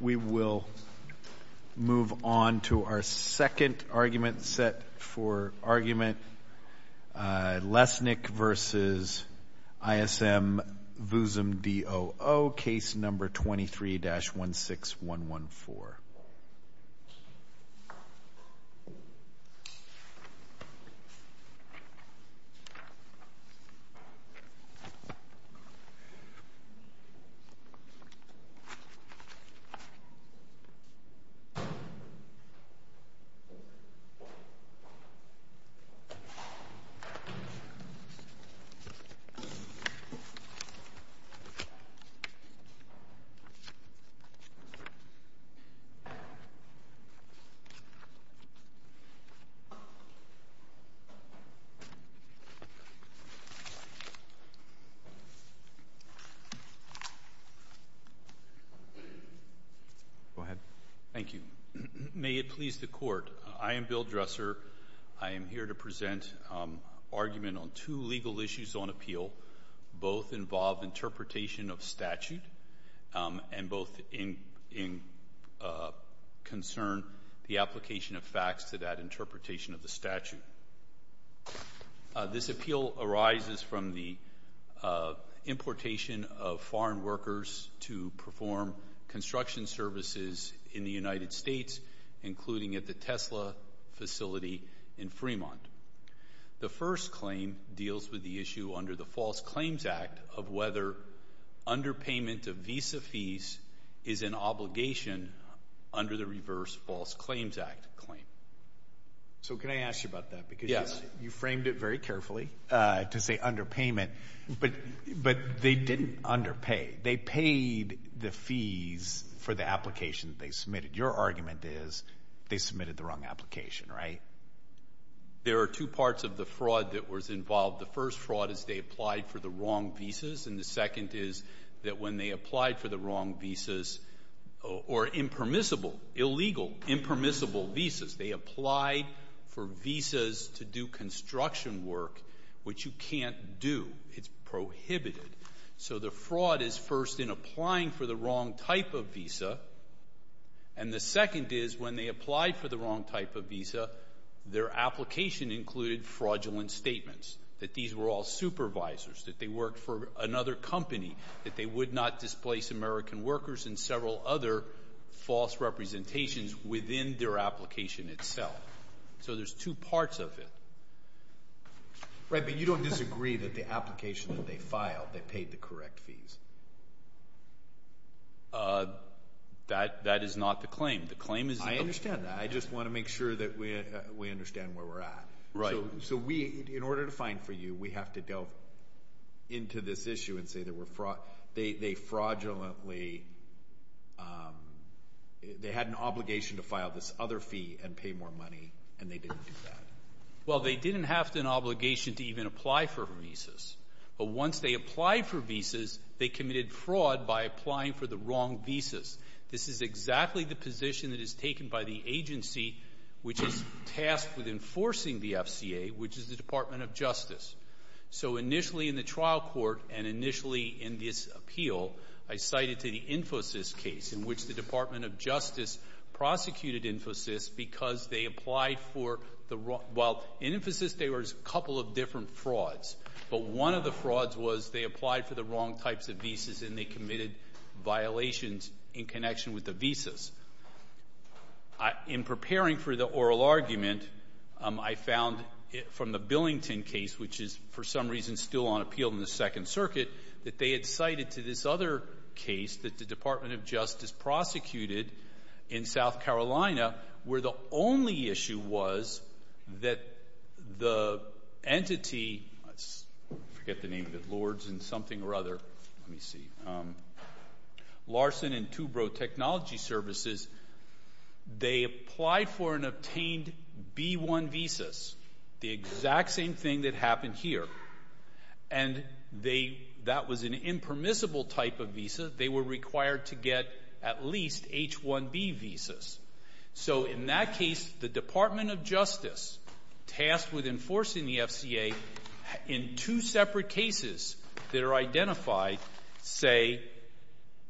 We will move on to our second argument set for argument Lesnik v. ISM Vuzem d.o.o., case number 23-16114. We will move on to our second argument set for argument Lesnik v. ISM Vuzem d.o.o., case number 23-16114. Thank you. May it please the Court, I am Bill Dresser. I am here to present an argument on two legal issues on appeal. Both involve interpretation of statute and both concern the application of facts to that interpretation of the statute. This appeal arises from the importation of foreign workers to perform construction services in the United States, including at the Tesla facility in Fremont. The first claim deals with the issue under the False Claims Act of whether underpayment of visa fees is an obligation under the reverse False Claims Act claim. So can I ask you about that? Yes. Because you framed it very carefully to say underpayment, but they didn't underpay. They paid the fees for the application that they submitted. Your argument is they submitted the wrong application, right? There are two parts of the fraud that was involved. The first fraud is they applied for the wrong visas. And the second is that when they applied for the wrong visas or impermissible, illegal, impermissible visas, they applied for visas to do construction work, which you can't do. It's prohibited. So the fraud is first in applying for the wrong type of visa. And the second is when they applied for the wrong type of visa, their application included fraudulent statements, that these were all supervisors, that they worked for another company, that they would not displace American workers and several other false representations within their application itself. So there's two parts of it. Right. But you don't disagree that the application that they filed, they paid the correct fees. That that is not the claim. The claim is I understand that. I just want to make sure that we understand where we're at. Right. So we, in order to find for you, we have to delve into this issue and say there were fraud. They fraudulently, they had an obligation to file this other fee and pay more money, and they didn't do that. Well, they didn't have an obligation to even apply for visas. But once they applied for visas, they committed fraud by applying for the wrong visas. This is exactly the position that is taken by the agency which is tasked with enforcing the FCA, which is the Department of Justice. So initially in the trial court and initially in this appeal, I cited to the Infosys case, in which the Department of Justice prosecuted Infosys because they applied for the wrong – well, in Infosys there was a couple of different frauds. But one of the frauds was they applied for the wrong types of visas and they committed violations in connection with the visas. In preparing for the oral argument, I found from the Billington case, which is for some reason still on appeal in the Second Circuit, that they had cited to this other case that the Department of Justice prosecuted in South Carolina where the only issue was that the entity – I forget the name of it, Lords and something or other. Let me see. Larson and Tubro Technology Services, they applied for and obtained B-1 visas, the exact same thing that happened here. And that was an impermissible type of visa. They were required to get at least H-1B visas. So in that case, the Department of Justice, tasked with enforcing the FCA, in two separate cases that are identified, say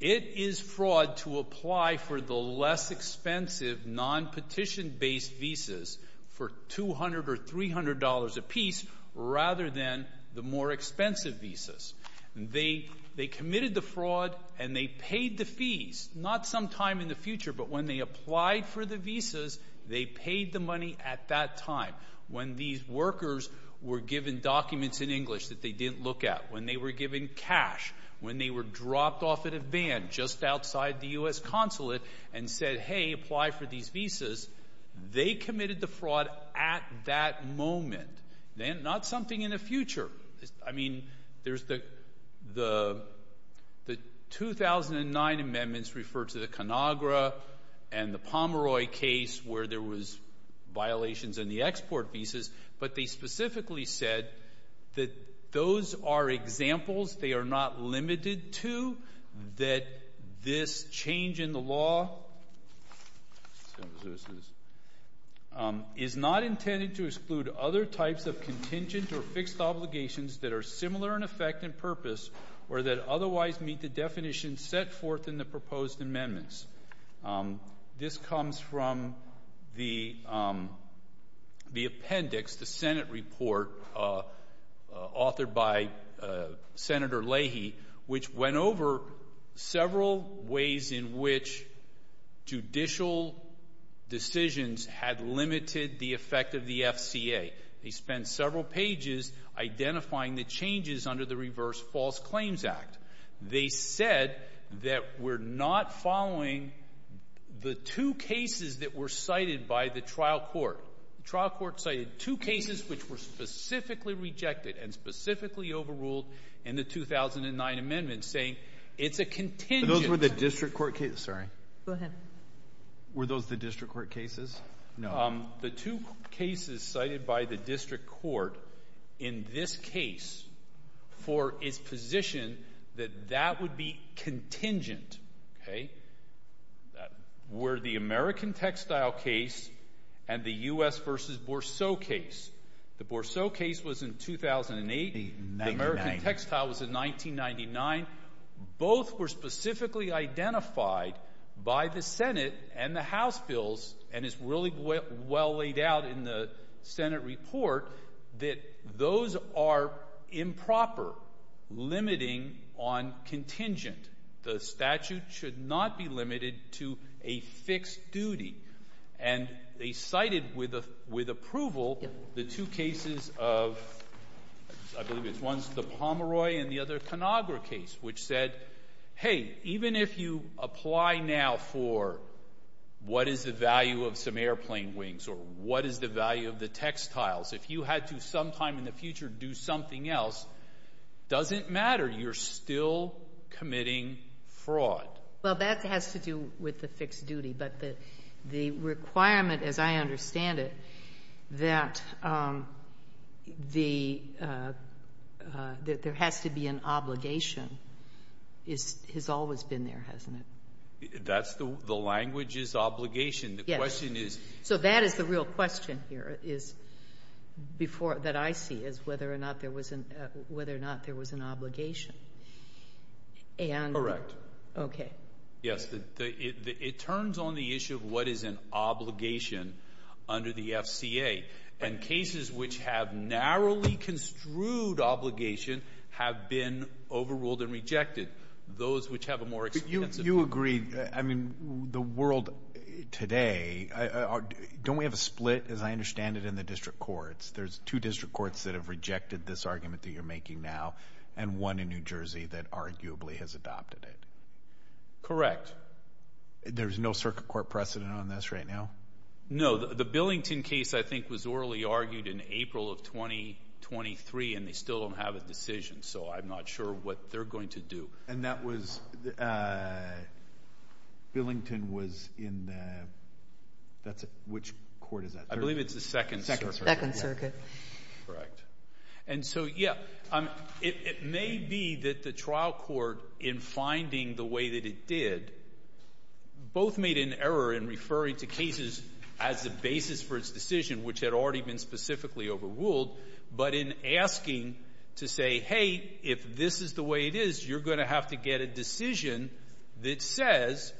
it is fraud to apply for the less expensive, non-petition-based visas for $200 or $300 apiece rather than the more expensive visas. They committed the fraud and they paid the fees, not sometime in the future, but when they applied for the visas, they paid the money at that time. When these workers were given documents in English that they didn't look at, when they were given cash, when they were dropped off at a van just outside the U.S. Consulate and said, hey, apply for these visas, they committed the fraud at that moment, not something in the future. I mean, the 2009 amendments referred to the Conagra and the Pomeroy case where there was violations in the export visas, but they specifically said that those are examples they are not limited to, that this change in the law is not intended to exclude other types of contingent or fixed obligations that are similar in effect and purpose or that otherwise meet the definitions set forth in the proposed amendments. This comes from the appendix, the Senate report authored by Senator Leahy, which went over several ways in which judicial decisions had limited the effect of the FCA. They spent several pages identifying the changes under the Reverse False Claims Act. They said that we're not following the two cases that were cited by the trial court. The trial court cited two cases which were specifically rejected and specifically overruled in the 2009 amendments, saying it's a contingent. But those were the district court cases? Sorry. Go ahead. Were those the district court cases? No. The two cases cited by the district court in this case for its position that that would be contingent were the American textile case and the U.S. v. Bourseau case. The Bourseau case was in 2008. The American textile was in 1999. Both were specifically identified by the Senate and the House bills, and it's really well laid out in the Senate report that those are improper, limiting on contingent. The statute should not be limited to a fixed duty. And they cited with approval the two cases of the Pomeroy and the other Conagra case, which said, hey, even if you apply now for what is the value of some airplane wings or what is the value of the textiles, if you had to sometime in the future do something else, it doesn't matter, you're still committing fraud. Well, that has to do with the fixed duty, but the requirement, as I understand it, that there has to be an obligation has always been there, hasn't it? That's the language is obligation. Yes. The question is... So that is the real question here that I see is whether or not there was an obligation. Correct. Okay. Yes. It turns on the issue of what is an obligation under the FCA, and cases which have narrowly construed obligation have been overruled and rejected. Those which have a more extensive obligation. You agree. I mean, the world today, don't we have a split, as I understand it, in the district courts? There's two district courts that have rejected this argument that you're making now and one in New Jersey that arguably has adopted it. Correct. There's no circuit court precedent on this right now? No. The Billington case, I think, was orally argued in April of 2023, and they still don't have a decision, so I'm not sure what they're going to do. And that was... Billington was in the... Which court is that? I believe it's the Second Circuit. Second Circuit. Correct. And so, yeah, it may be that the trial court, in finding the way that it did, both made an error in referring to cases as the basis for its decision, which had already been specifically overruled, but in asking to say, hey, if this is the way it is, you're going to have to get a decision that says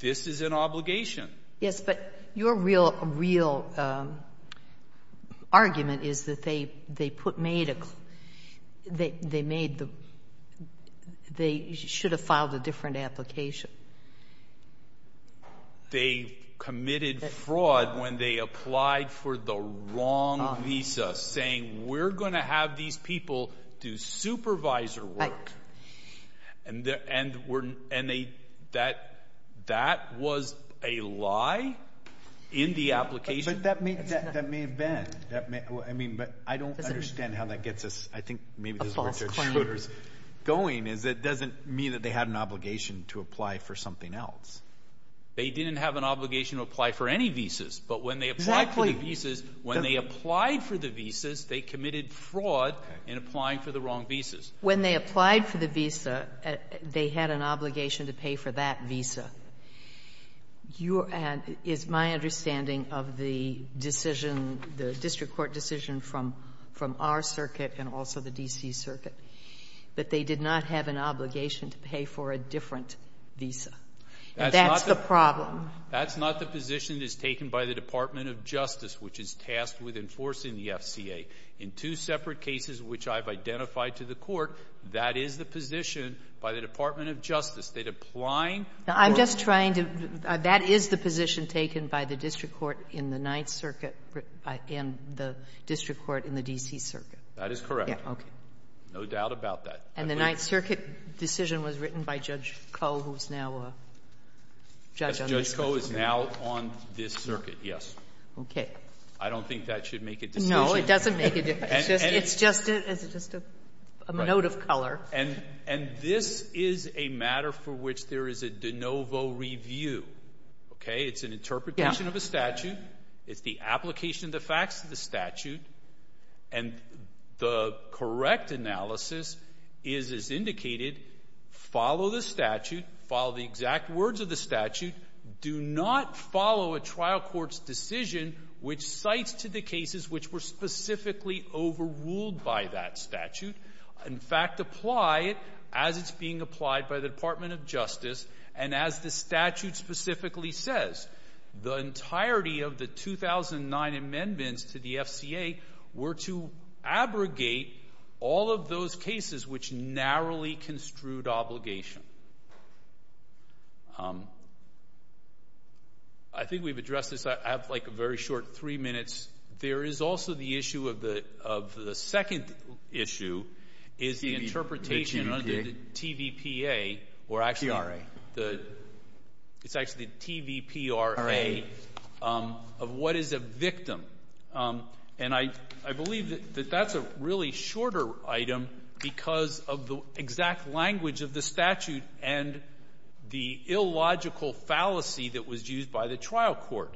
this is an obligation. Yes, but your real argument is that they made the... They should have filed a different application. They committed fraud when they applied for the wrong visa, saying we're going to have these people do supervisor work. Right. And that was a lie in the application. But that may have been. I mean, but I don't understand how that gets us... A false claim. I think maybe this is where Judge Schroeder is going, is it doesn't mean that they had an obligation to apply for something else. They didn't have an obligation to apply for any visas. But when they applied for the visas... Exactly. When they applied for the visas, they committed fraud in applying for the wrong visas. When they applied for the visa, they had an obligation to pay for that visa. You're at, is my understanding of the decision, the district court decision from our circuit and also the D.C. Circuit, that they did not have an obligation to pay for a different visa. And that's the problem. That's not the position that's taken by the Department of Justice, which is tasked with enforcing the FCA. In two separate cases which I've identified to the Court, that is the position by the Department of Justice. They'd apply for... I'm just trying to... That is the position taken by the district court in the Ninth Circuit and the district court in the D.C. Circuit. That is correct. Okay. No doubt about that. And the Ninth Circuit decision was written by Judge Koh, who's now a judge on this circuit. Judge Koh is now on this circuit, yes. Okay. I don't think that should make a decision. No, it doesn't make a decision. It's just a note of color. And this is a matter for which there is a de novo review. Okay? It's an interpretation of a statute. It's the application of the facts of the statute. And the correct analysis is, as indicated, follow the statute, follow the exact words of the statute, do not follow a trial court's decision which cites to the cases which were specifically overruled by that statute. In fact, apply it as it's being applied by the Department of Justice and as the statute specifically says. The entirety of the 2009 amendments to the FCA were to abrogate all of those cases which narrowly construed obligation. I think we've addressed this. I have like a very short three minutes. There is also the issue of the second issue is the interpretation of the TVPA or actually the TVPRA of what is a victim. And I believe that that's a really shorter item because of the exact language of the statute and the illogical fallacy that was used by the trial court.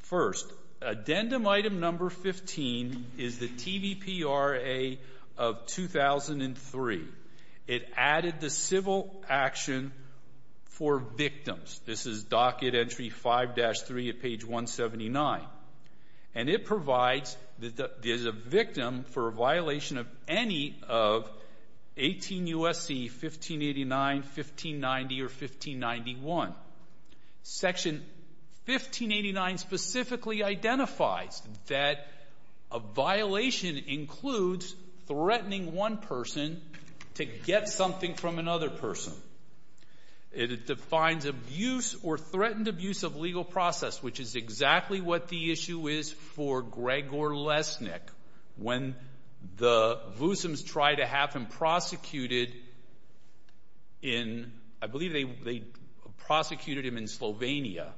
First, addendum item number 15 is the TVPRA of 2003. It added the civil action for victims. This is docket entry 5-3 at page 179. And it provides that there's a victim for a violation of any of 18 U.S.C. 1589, 1590, or 1591. Section 1589 specifically identifies that a violation includes threatening one person to get something from another person. It defines abuse or threatened abuse of legal process, which is exactly what the issue is for Gregor Lesnik. When the Vusims tried to have him prosecuted in, I believe they prosecuted him in Slovenia,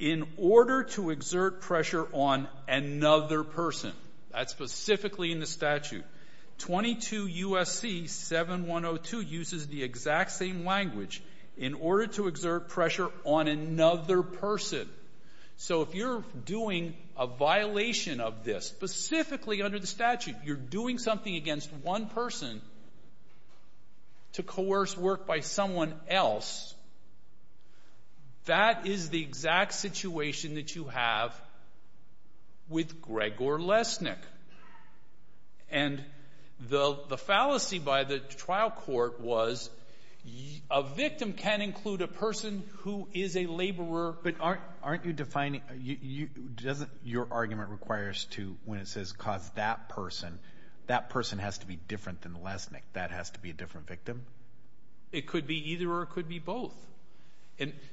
in order to exert pressure on another person, that's specifically in the statute, 22 U.S.C. 7102 uses the exact same language, in order to exert pressure on another person. So if you're doing a violation of this, specifically under the statute, you're doing something against one person to coerce work by someone else, that is the exact situation that you have with Gregor Lesnik. And the fallacy by the trial court was a victim can include a person who is a victim. Aren't you defining, doesn't your argument require us to, when it says cause that person, that person has to be different than Lesnik, that has to be a different victim? It could be either or it could be both.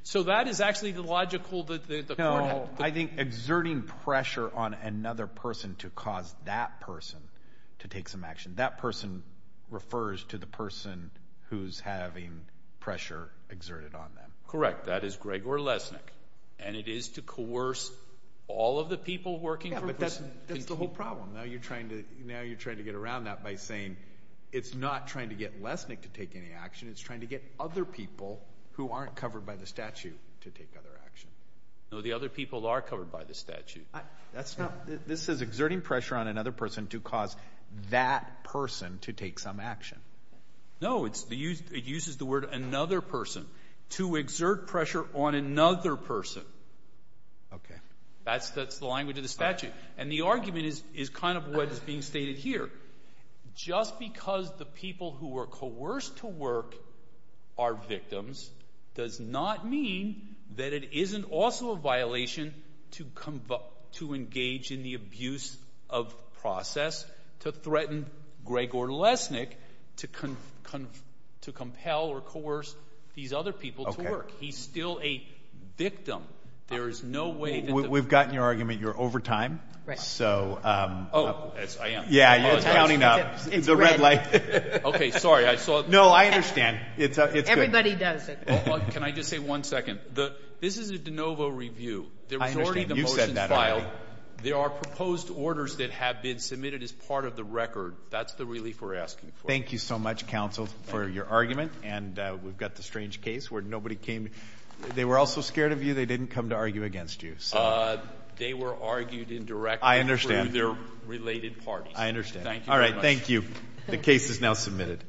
So that is actually the logical, the point. No, I think exerting pressure on another person to cause that person to take some action, that person refers to the person who's having pressure exerted on them. Correct. That is Gregor Lesnik. And it is to coerce all of the people working for a person. Yeah, but that's the whole problem. Now you're trying to get around that by saying it's not trying to get Lesnik to take any action, it's trying to get other people who aren't covered by the statute to take other action. No, the other people are covered by the statute. This is exerting pressure on another person to cause that person to take some action. No, it uses the word another person. To exert pressure on another person. Okay. That's the language of the statute. And the argument is kind of what is being stated here. Just because the people who are coerced to work are victims does not mean that it isn't also a violation to engage in the abuse of process to threaten Gregor Lesnik to compel or coerce these other people to work. Okay. He's still a victim. There is no way. We've gotten your argument. You're over time. Right. So. Oh, I am. Yeah, it's counting up. It's red. The red light. Okay, sorry. I saw. No, I understand. It's good. Everybody does it. Can I just say one second? This is a de novo review. I understand. You said that already. There are proposed orders that have been submitted as part of the record. That's the relief we're asking for. Thank you so much, counsel, for your argument. And we've got the strange case where nobody came. They were also scared of you. They didn't come to argue against you. They were argued indirectly. I understand. Through their related parties. I understand. Thank you very much. All right, thank you. The case is now submitted.